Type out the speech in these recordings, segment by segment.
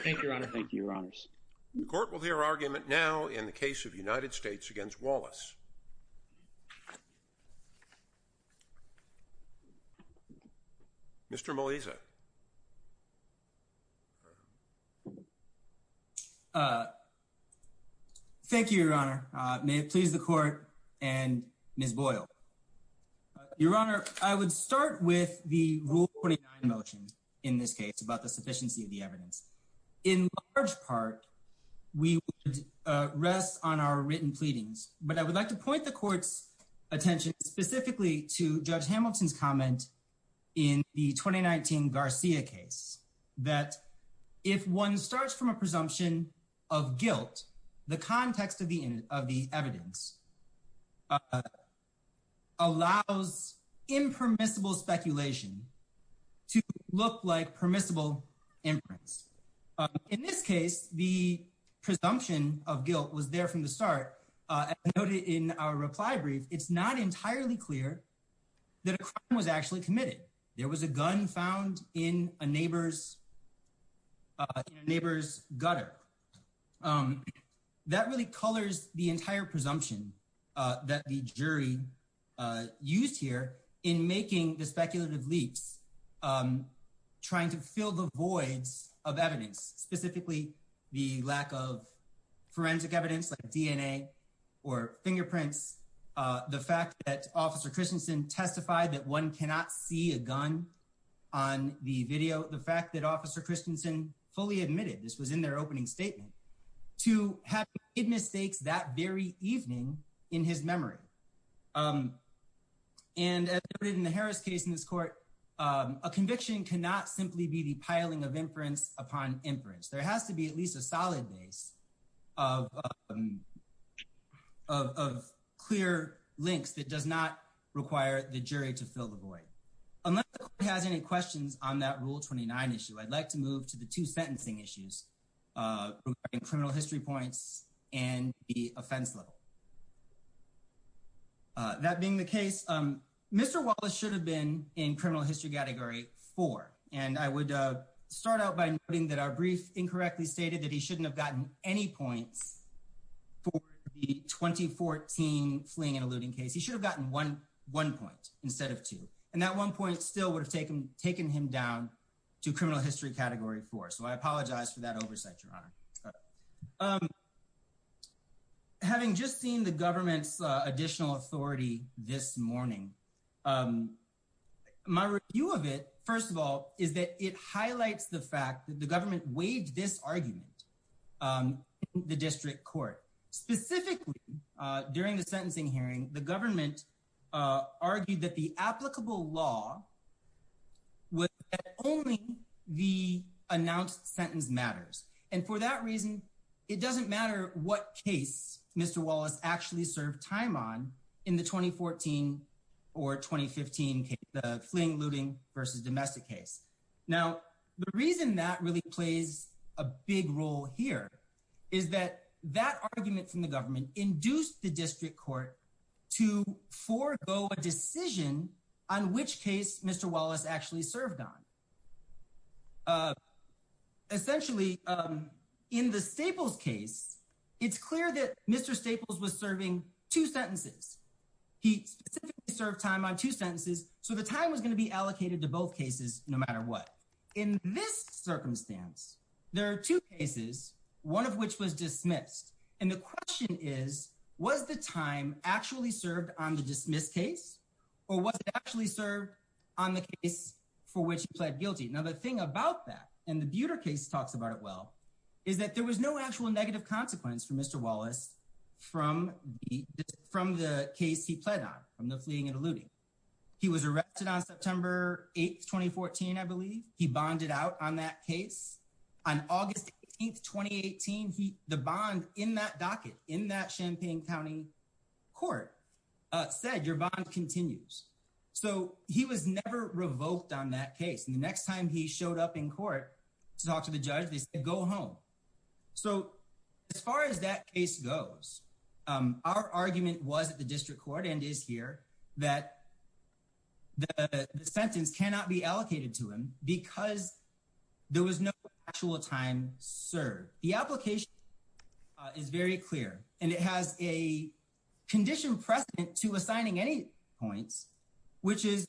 Thank you, Your Honor. Thank you, Your Honors. The court will hear argument now in the case of United States v. Wallace. Mr. Maliza. Thank you, Your Honor. May it please the court and Ms. Boyle. Your Honor, I would start with the Rule 49 motion in this case about the in large part, we rest on our written pleadings. But I would like to point the court's attention specifically to Judge Hamilton's comment in the 2019 Garcia case, that if one starts from a presumption of guilt, the context of the of the evidence allows impermissible speculation to look like permissible inference. In this case, the presumption of guilt was there from the start. As noted in our reply brief, it's not entirely clear that a crime was actually committed. There was a gun found in a neighbor's gutter. Um, that really colors the entire presumption that the jury used here in making the speculative leaps, trying to fill the voids of evidence, specifically, the lack of forensic evidence like DNA, or fingerprints, the fact that Officer Christensen testified that one cannot see a gun on the video, the fact that Officer Christensen fully admitted this was in their opening statement to have made mistakes that very evening in his memory. And as noted in the Harris case in this court, a conviction cannot simply be the piling of inference upon inference, there has to be at least a solid base of clear links that does not require the jury to fill the void. Unless the court has any questions on that Rule 29 issue, I'd like to move to the two sentencing issues regarding criminal history points and the offense level. That being the case, Mr. Wallace should have been in criminal history category four, and I would start out by noting that our brief incorrectly stated that he shouldn't have gotten any points for the 2014 fleeing and eluding case. He should have gotten one point instead of two, and that one point still would have taken him down to criminal history category four, so I apologize for that oversight, Your Honor. Having just seen the government's additional authority this morning, my review of it, first of all, is that it highlights the fact that the government waived this argument in the district court. Specifically, during the sentencing hearing, the government argued that the applicable law was that only the announced sentence matters, and for that reason, it doesn't matter what case Mr. Wallace actually served time on in the 2014 or 2015 fleeing, eluding versus domestic case. Now, the reason that really plays a big role here is that that argument from the government induced the district court to forego a decision on which case Mr. Wallace actually served on. Essentially, in the Staples case, it's clear that Mr. Staples was serving two sentences. He specifically served time on two sentences, so the time was going to be allocated to both cases no matter what. In this circumstance, there are two cases, one of which was dismissed, and the question is, was the time actually served on the dismissed case, or was it actually served on the case for which he pled guilty? Now, the thing about that, and the Buter case talks about it well, is that there was no actual negative consequence for Mr. Wallace from the case he pled on, from the fleeing and eluding. He was arrested on September 8th, 2014, I believe. He bonded out on that case. On August 18th, 2018, the bond in that docket, in that Champaign County court, said your bond continues. So, he was never revoked on that case, and the next time he showed up in court to talk to the judge, they said, go home. So, as far as that case goes, our argument was at the district court, and is here, that the sentence cannot be allocated to him because there was no actual time served. The application is very clear, and it has a condition present to assigning any points, which is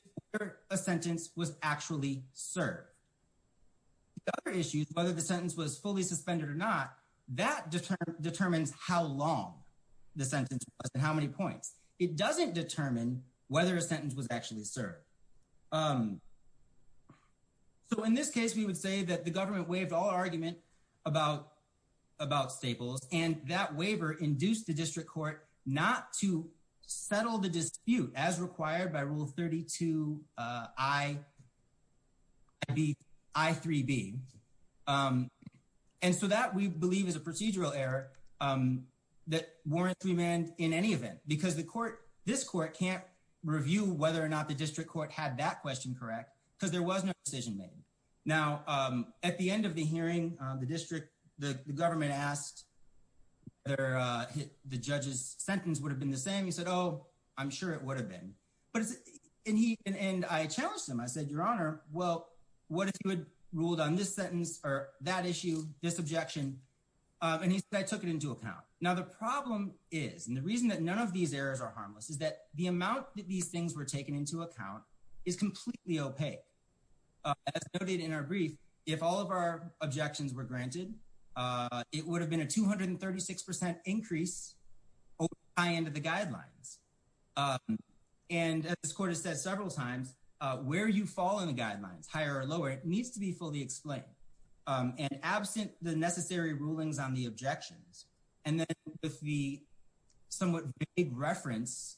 a sentence was actually served. The other issue, whether the sentence was fully suspended or not, that determines how long the sentence was and how we would say that the government waived all argument about Staples, and that waiver induced the district court not to settle the dispute as required by Rule 32 I3B. And so, that we believe is a procedural error that warrants remand in any event, because the court, this court can't review whether or not the district court had that question correct because there was no decision made. Now, at the end of the hearing, the district, the government asked whether the judge's sentence would have been the same. He said, oh, I'm sure it would have been. And I challenged him. I said, your honor, well, what if you had ruled on this sentence or that issue, this objection? And he said, I took it into account. Now, the problem is, and the reason that none of these errors are harmless, is that the amount that these things were taken into account is completely opaque. As noted in our brief, if all of our objections were granted, it would have been a 236% increase over the high end of the guidelines. And as this court has said several times, where you fall in the guidelines, higher or lower, it needs to be fully explained. And absent the necessary rulings on the objections, and then with the somewhat vague reference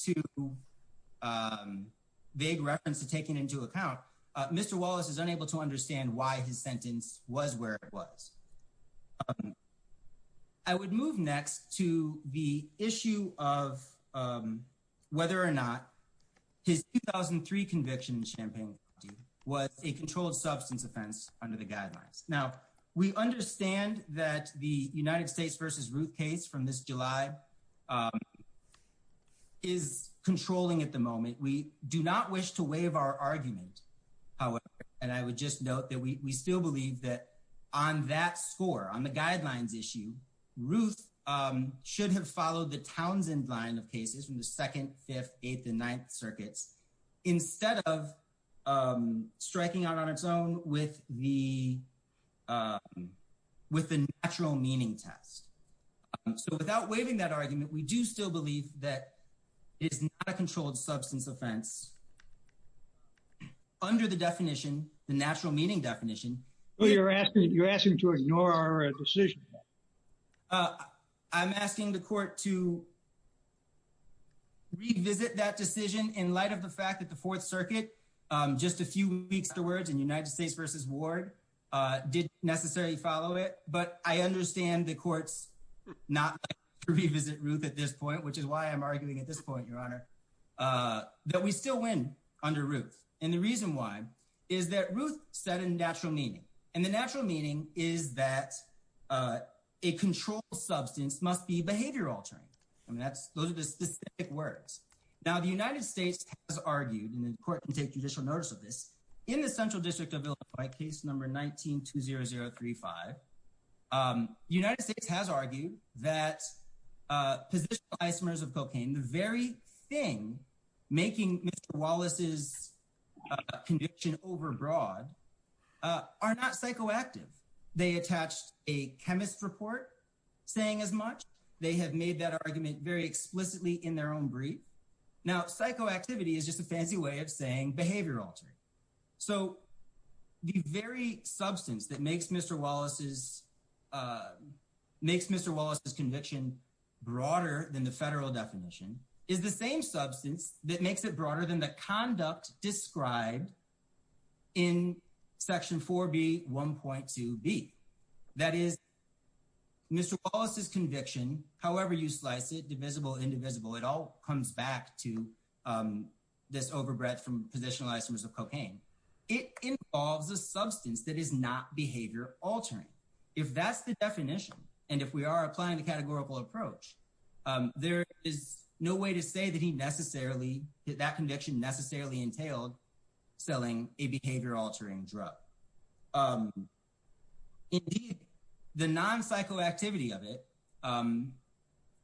to take it into account, Mr. Wallace is unable to understand why his sentence was where it was. I would move next to the issue of whether or not his 2003 conviction in Champaign-Franklin was a controlled substance offense under the guidelines. Now, we understand that the United We do not wish to waive our argument, however, and I would just note that we still believe that on that score, on the guidelines issue, Ruth should have followed the Townsend line of cases from the 2nd, 5th, 8th, and 9th circuits, instead of striking out on its own with the natural meaning test. So without waiving that argument, we do still believe that it's not a controlled substance offense under the definition, the natural meaning definition. Well, you're asking to ignore our decision. I'm asking the court to revisit that decision in light of the fact that the 4th Circuit, just a few weeks towards in United States v. Ward, did necessarily follow it. But I understand the court's not like to revisit Ruth at this point, which is why I'm arguing at this point, Your Honor, that we still win under Ruth. And the reason why is that Ruth said in natural meaning, and the natural meaning is that a controlled substance must be behavior-altering. Those are the specific words. Now, the United States has argued, and the court can take judicial notice of this, in the Central District of Illinois, case number 19-20035, United States has argued that positional isomers of cocaine, the very thing making Mr. Wallace's conviction overbroad, are not psychoactive. They attached a chemist's report saying as much. They have made that argument very explicitly in their own brief. Now, psychoactivity is just a fancy way of saying behavior-altering. So, the very substance that makes Mr. Wallace's conviction broader than the federal definition is the same substance that makes it broader than the conduct described in Section 4B, 1.2B. That is, Mr. Wallace's conviction, however you slice it, divisible, indivisible, it all comes back to this overbred from positional isomers of cocaine. It involves a substance that is not behavior-altering. If that's the definition, and if we are applying the categorical approach, there is no way to say that he necessarily, that conviction necessarily entailed selling a behavior-altering drug. Indeed, the non-psychoactivity of it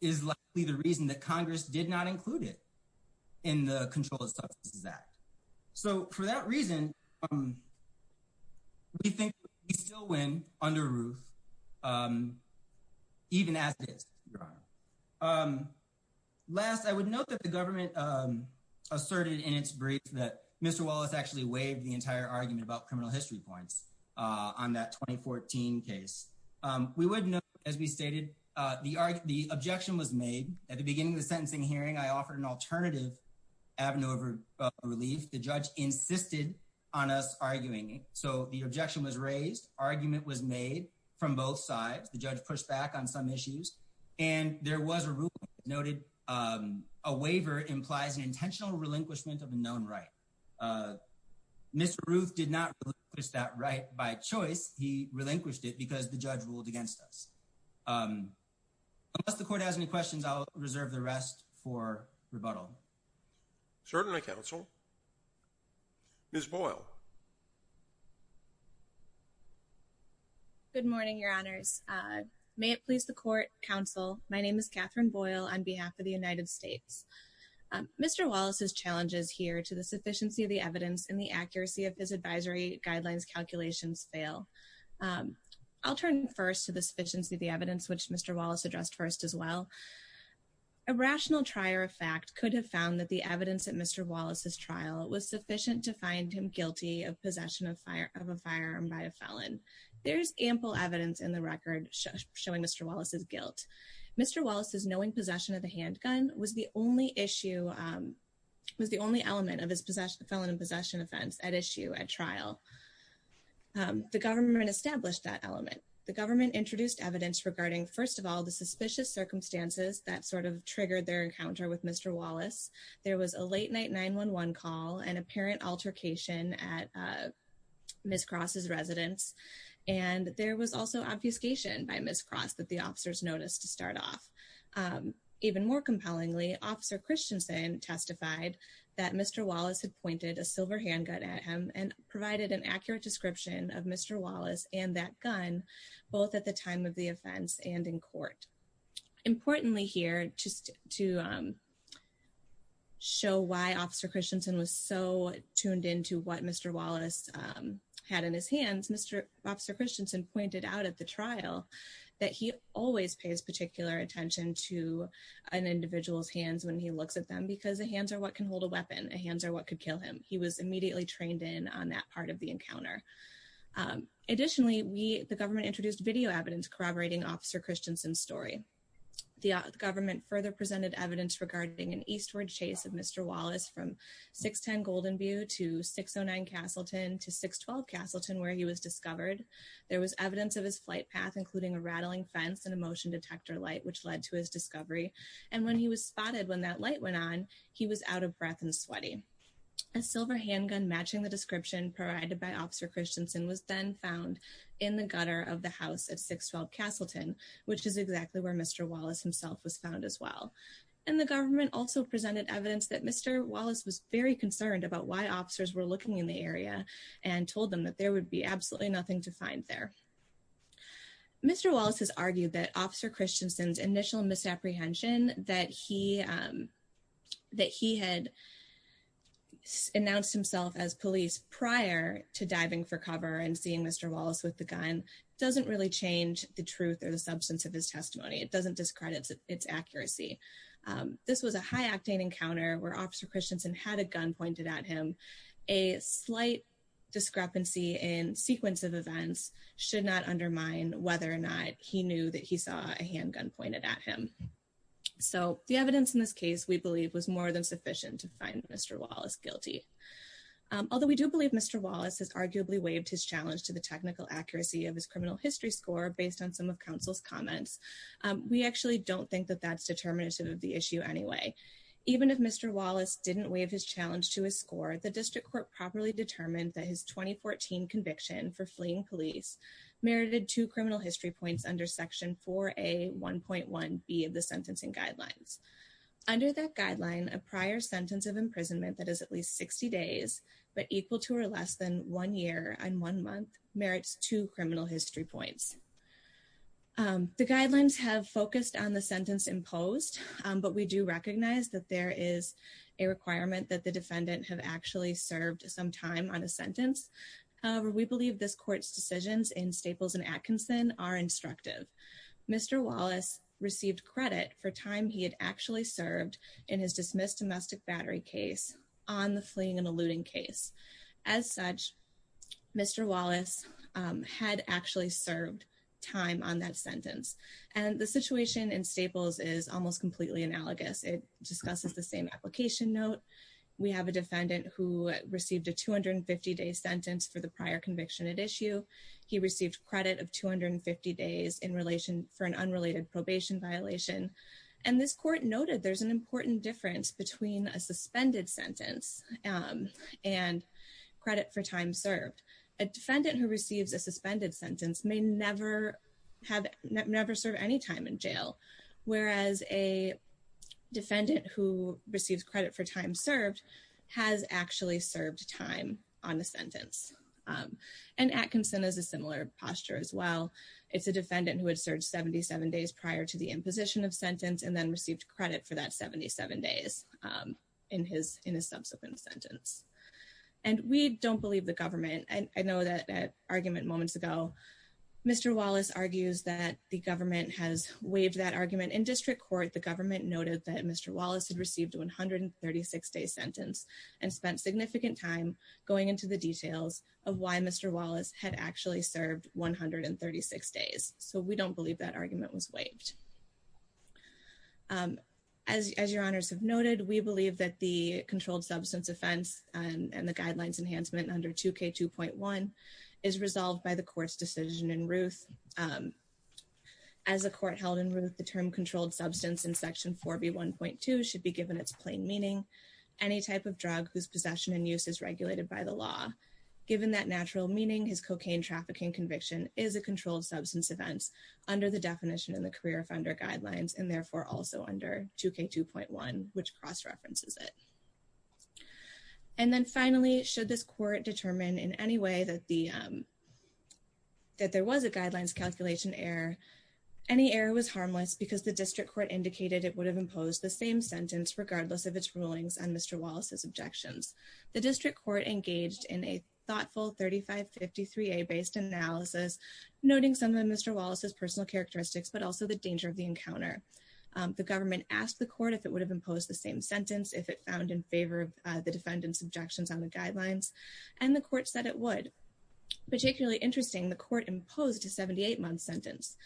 is likely the reason that Congress did not include it in the Control of Substances Act. So, for that reason, we think we still win under Ruth, even as it is, Your Honor. Last, I would note that the government asserted in its brief that Mr. Wallace actually waived the entire argument about criminal history points on that 2014 case. We would note, as we stated, the objection was made. At the beginning of the sentencing hearing, I offered an alternative avenue of relief. The judge insisted on us arguing. So, the objection was raised. Argument was made from both sides. The judge pushed back on some issues, and there was a ruling that noted a waiver implies an intentional relinquishment of a known right. Mr. Ruth did not relinquish that right by choice. He relinquished it because the judge ruled against us. Unless the Court has any questions, I'll reserve the rest for rebuttal. Certainly, Counsel. Ms. Boyle. Good morning, Your Honors. May it please the Court, Counsel, my name is Catherine Boyle on behalf of the United States. Mr. Wallace's challenge is here to the sufficiency of the evidence, which Mr. Wallace addressed first as well. A rational trier of fact could have found that the evidence at Mr. Wallace's trial was sufficient to find him guilty of possession of a firearm by a felon. There's ample evidence in the record showing Mr. Wallace's guilt. Mr. Wallace's knowing possession of the handgun was the only issue, was the only element of his felon in possession offense at issue at trial. The government established that element. The government introduced evidence regarding, first of all, the suspicious circumstances that sort of triggered their encounter with Mr. Wallace. There was a late night 911 call, an apparent altercation at Ms. Cross's residence, and there was also obfuscation by Ms. Cross that the officers noticed to start off. Even more compellingly, Officer Christensen testified that Mr. Wallace had pointed a silver handgun at him and provided an accurate description of Mr. Wallace and that gun, both at the time of the offense and in court. Importantly here, just to show why Officer Christensen was so tuned into what Mr. Wallace had in his hands, Mr. Officer Christensen pointed out at the trial that he always pays particular attention to an individual's hands when he looks at them because the hands are what can hold a weapon. The hands are what could kill him. He was immediately trained in on that part of the encounter. Additionally, the government introduced video evidence corroborating Officer Christensen's story. The government further presented evidence regarding an eastward chase of Mr. Wallace from 610 Goldenview to 609 Castleton to 612 Castleton where he was discovered. There was evidence of his flight path, including a rattling fence and a motion detector light, which led to his discovery. And when he was spotted, when that light went on, he was out of breath and sweaty. A silver handgun matching the description provided by Officer Christensen was then found in the gutter of the house at 612 Castleton, which is exactly where Mr. Wallace himself was found as well. And the government also presented evidence that Mr. Wallace was very concerned about why officers were looking in the area and told them that there would be absolutely nothing to find there. Mr. Wallace has argued that Officer Christensen's initial misapprehension that he had announced himself as police prior to diving for cover and seeing Mr. Wallace with the gun doesn't really change the truth or the substance of his testimony. It doesn't discredit its accuracy. This was a high-octane encounter where Officer Christensen had a gun pointed at him. A slight discrepancy in sequence of events should not undermine whether or not he knew that he saw a handgun pointed at him. So the evidence in this case we believe was more than sufficient to find Mr. Wallace guilty. Although we do believe Mr. Wallace has arguably waived his challenge to the technical accuracy of his criminal history score based on some of counsel's comments, we actually don't think that that's determinative of the issue anyway. Even if Mr. Wallace didn't waive his challenge to his score, the district court properly determined that his 2014 conviction for fleeing police merited two criminal history points under section 4A.1.1b of the sentencing guidelines. Under that guideline, a prior sentence of imprisonment that is at least 60 days but equal to or less than one year and one month merits two criminal history points. The guidelines have focused on the sentence imposed but we do recognize that there is a requirement that the defendant have actually served some time on a sentence. However, we believe this court's decisions in Staples and Atkinson are instructive. Mr. Wallace received credit for time he had actually served in his dismissed domestic battery case on the fleeing alluding case. As such, Mr. Wallace had actually served time on that sentence. And the situation in Staples is almost completely analogous. It discusses the same application note. We have a defendant who received a 250-day sentence for the prior conviction at issue. He received credit of 250 days in relation for an unrelated probation violation. And this court noted there's an and credit for time served. A defendant who receives a suspended sentence may never have never served any time in jail. Whereas a defendant who receives credit for time served has actually served time on the sentence. And Atkinson is a similar posture as well. It's a defendant who had served 77 days prior to the imposition of sentence and then received credit for that 77 days in his subsequent sentence. And we don't believe the government. I know that argument moments ago, Mr. Wallace argues that the government has waived that argument. In district court, the government noted that Mr. Wallace had received a 136-day sentence and spent significant time going into the details of why Mr. Wallace had actually served 136 days. So we don't believe that argument was waived. As your honors have noted, we believe that the controlled substance offense and the guidelines enhancement under 2K2.1 is resolved by the court's decision in Ruth. As a court held in Ruth, the term controlled substance in section 4B1.2 should be given its plain meaning. Any type of drug whose possession and use is regulated by the law. Given that natural meaning, his cocaine trafficking conviction is a controlled substance offense under the definition in the career offender guidelines and therefore also under 2K2.1, which cross-references it. And then finally, should this court determine in any way that the, that there was a guidelines calculation error, any error was harmless because the district court indicated it would have imposed the same sentence regardless of its rulings and Mr. Wallace's objections. The district court engaged in a thoughtful 3553A based analysis, noting some of Mr. Wallace's personal characteristics, but also the danger of the encounter. The government asked the court if it would have imposed the same sentence if it found in favor of the defendant's objections on the guidelines. And the court said it would. Particularly interesting, the court imposed a 78-month sentence.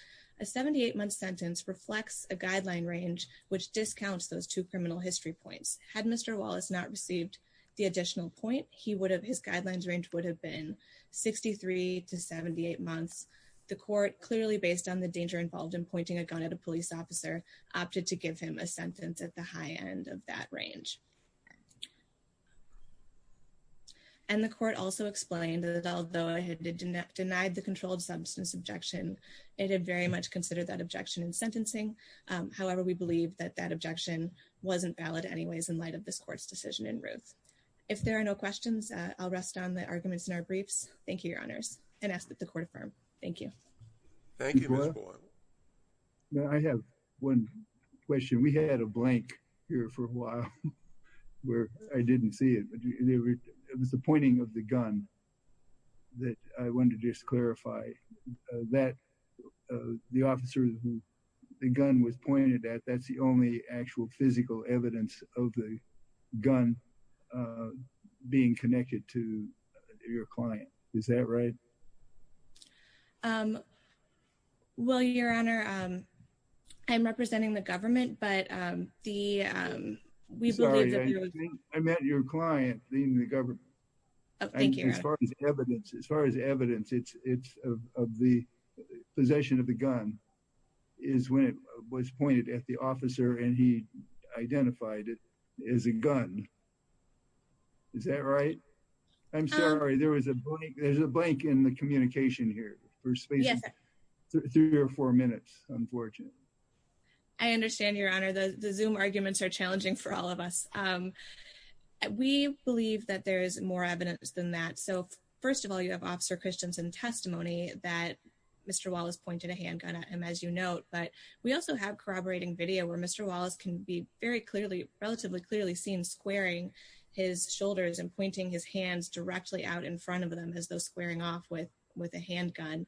A 78-month sentence reflects a guideline range which discounts those two criminal history points. Had Mr. Wallace not received the additional point, he would have, his guidelines range would have been 63 to 78 months. The court, clearly based on the danger involved in pointing a gun at a police officer, opted to give him a sentence at the high end of that range. And the court also explained that although it had denied the controlled substance objection, it had very much considered that objection in sentencing. However, we believe that that objection wasn't valid anyways in light of this court's decision in Ruth. If there are no questions, I'll rest on the arguments in our briefs. Thank you, Your Honors. And ask that the court affirm. Thank you. Thank you, Ms. Boyle. I have one question. We had a blank here for a while where I didn't see it, but it was the pointing of the gun that I wanted to just clarify that the officer who the gun was pointed at, that's the only actual physical evidence of the gun being connected to your client. Is that right? Well, Your Honor, I'm representing the government, but the, we believe that- Sorry, I meant your client, not the government. Thank you, Your Honor. As far as evidence, it's of the possession of the gun is when it was pointed at the officer and he identified it as a gun. Is that right? I'm sorry, there was a blank in the communication here for space, three or four minutes, unfortunately. I understand, Your Honor. The Zoom arguments are challenging for all of us. We believe that there is more evidence than that. So first of all, you have Officer Christensen testimony that Mr. Wallace pointed a handgun at him, as you note, but we also have corroborating video where Mr. Wallace can be very clearly, relatively clearly seen squaring his shoulders and pointing his hands directly out in front of them as though squaring off with a handgun.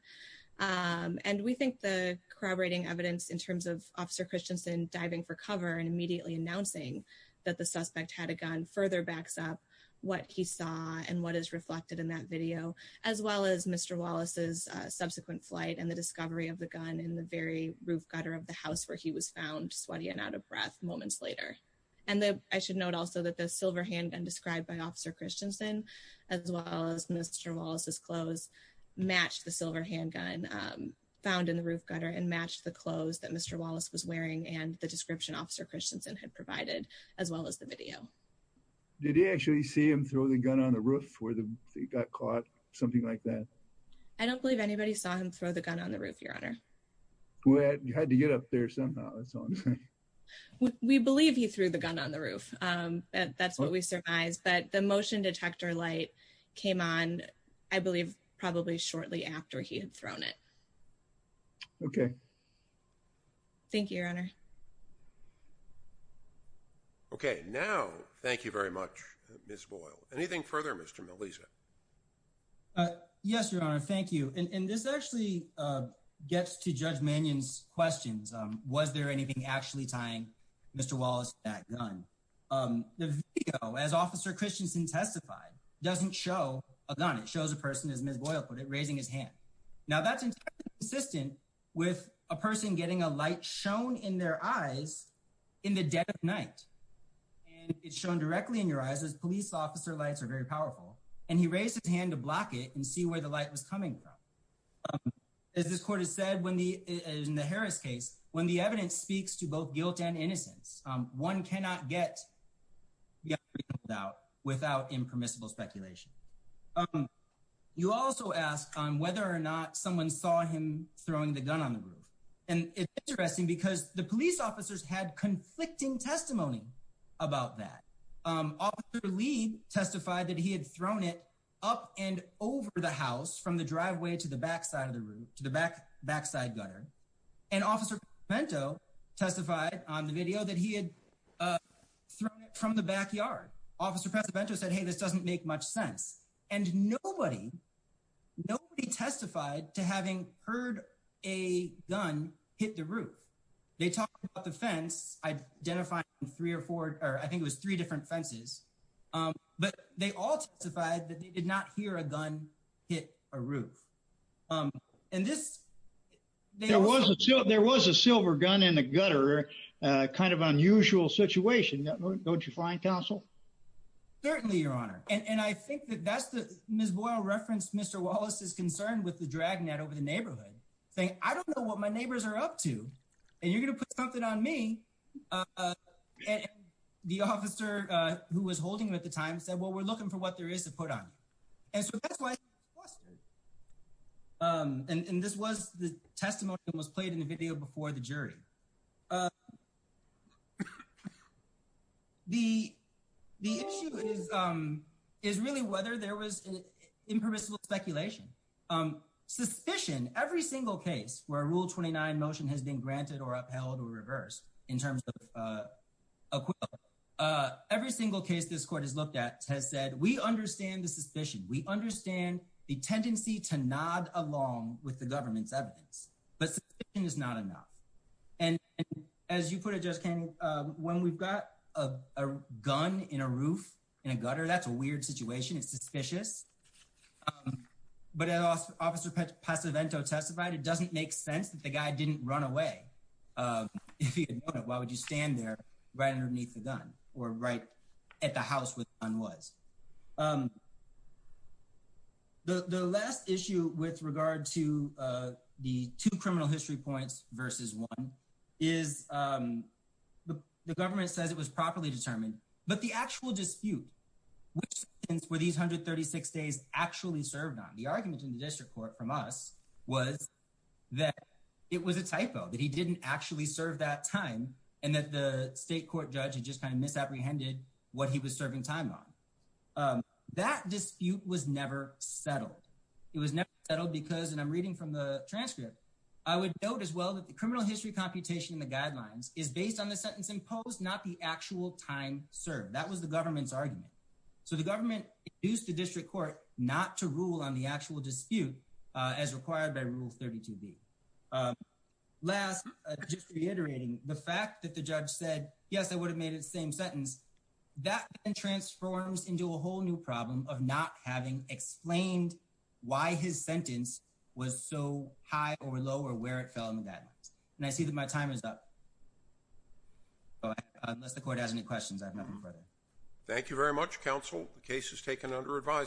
And we think the corroborating evidence in terms of Officer Christensen diving for cover and immediately announcing that the suspect had a gun further backs up what he saw and what is reflected in that video, as well as Mr. Wallace's subsequent flight and the discovery of the gun in the very roof gutter of the house where he was found sweaty and out of breath moments later. And I should note also that the silver handgun described by Officer Christensen, as well as Mr. Wallace's clothes match the silver handgun found in the roof gutter and match the clothes that Mr. Wallace was wearing and the description Officer Christensen had provided as well as the video. Did you actually see him throw the gun on the roof where they got caught? Something like that? I don't believe anybody saw him throw the gun on the roof, Your Honor. Well, you had to get up there somehow. We believe he threw the gun on the roof. That's what we surmise. But the motion detector light came on, I believe, probably shortly after he had thrown it. Okay. Thank you, Your Honor. Okay. Now, thank you very much, Ms. Boyle. Anything further, Mr. Melisa? Yes, Your Honor. Thank you. And this actually gets to Judge Mannion's questions. Was there anything actually tying Mr. Wallace to that gun? The video, as Officer Christensen testified, doesn't show a gun. It shows a person, as Ms. Boyle put it, raising his hand. Now, that's entirely consistent with a person getting a light shown in their eyes in the dead of night. And it's shown directly in your eyes as police officer lights are very powerful. And he raised his hand to block it and see where the light was coming from. As this court has said in the Harris case, when the evidence speaks to both guilt and innocence, one cannot get guilt without impermissible speculation. You also asked on whether or not someone saw him throwing the gun on the roof. And it's interesting because the police officers had conflicting testimony about that. Officer Lee testified that he had thrown it up and over the house from the driveway to the back side of the apartment. And he testified that he had thrown it from the backyard. Officer Pescevento said, hey, this doesn't make much sense. And nobody testified to having heard a gun hit the roof. They talked about the fence. I identified three or four, or I think it was three different fences. But they all testified that they did not hear a gun hit a roof. And this... There was a silver gun in the gutter, a kind of unusual situation, don't you find, counsel? Certainly, your honor. And I think that that's the... Ms. Boyle referenced Mr. Wallace's concern with the dragnet over the neighborhood, saying, I don't know what my neighbors are up to, and you're going to put something on me. And the officer who was holding him at the time said, well, we're looking for what there is to put on you. And so that's why... And this was the testimony that was played in the video before the jury. The issue is really whether there was impermissible speculation. Suspicion, every single case where a Rule 29 motion has been granted or upheld or reversed in terms of acquittal, every single case this court has looked at has said, we understand the suspicion. We understand the tendency to nod along with the government's evidence. But suspicion is not enough. And as you put it, Judge Kennedy, when we've got a gun in a roof, in a gutter, that's a weird situation. It's suspicious. But as Officer Pasovento testified, it doesn't make sense that the guy didn't run away. If he had known it, why would you stand there right underneath the gun or right at the house where the gun was? The last issue with regard to the two criminal history points versus one is the government says it was properly determined, but the actual dispute, which sentence were these 136 days actually served on? The argument in the district court from us was that it was a typo, that he didn't actually serve that time, and that the state court judge had just kind of misapprehended what he was serving time on. That dispute was never settled. It was never settled because, and I'm reading from the transcript, I would note as well that the criminal history computation in the guidelines is based on the sentence imposed, not the actual time served. That was the government's argument. So the government used the district court not to rule on the actual dispute as required by Rule 32B. Last, just reiterating, the fact that the judge said, yes, I would have made the same sentence, that then transforms into a whole new problem of not having explained why his sentence was so high or low or where it fell in the guidelines. And I see that my time is up. Unless the court has any questions, I have nothing further. Thank you very much, counsel. The case is taken under advisory.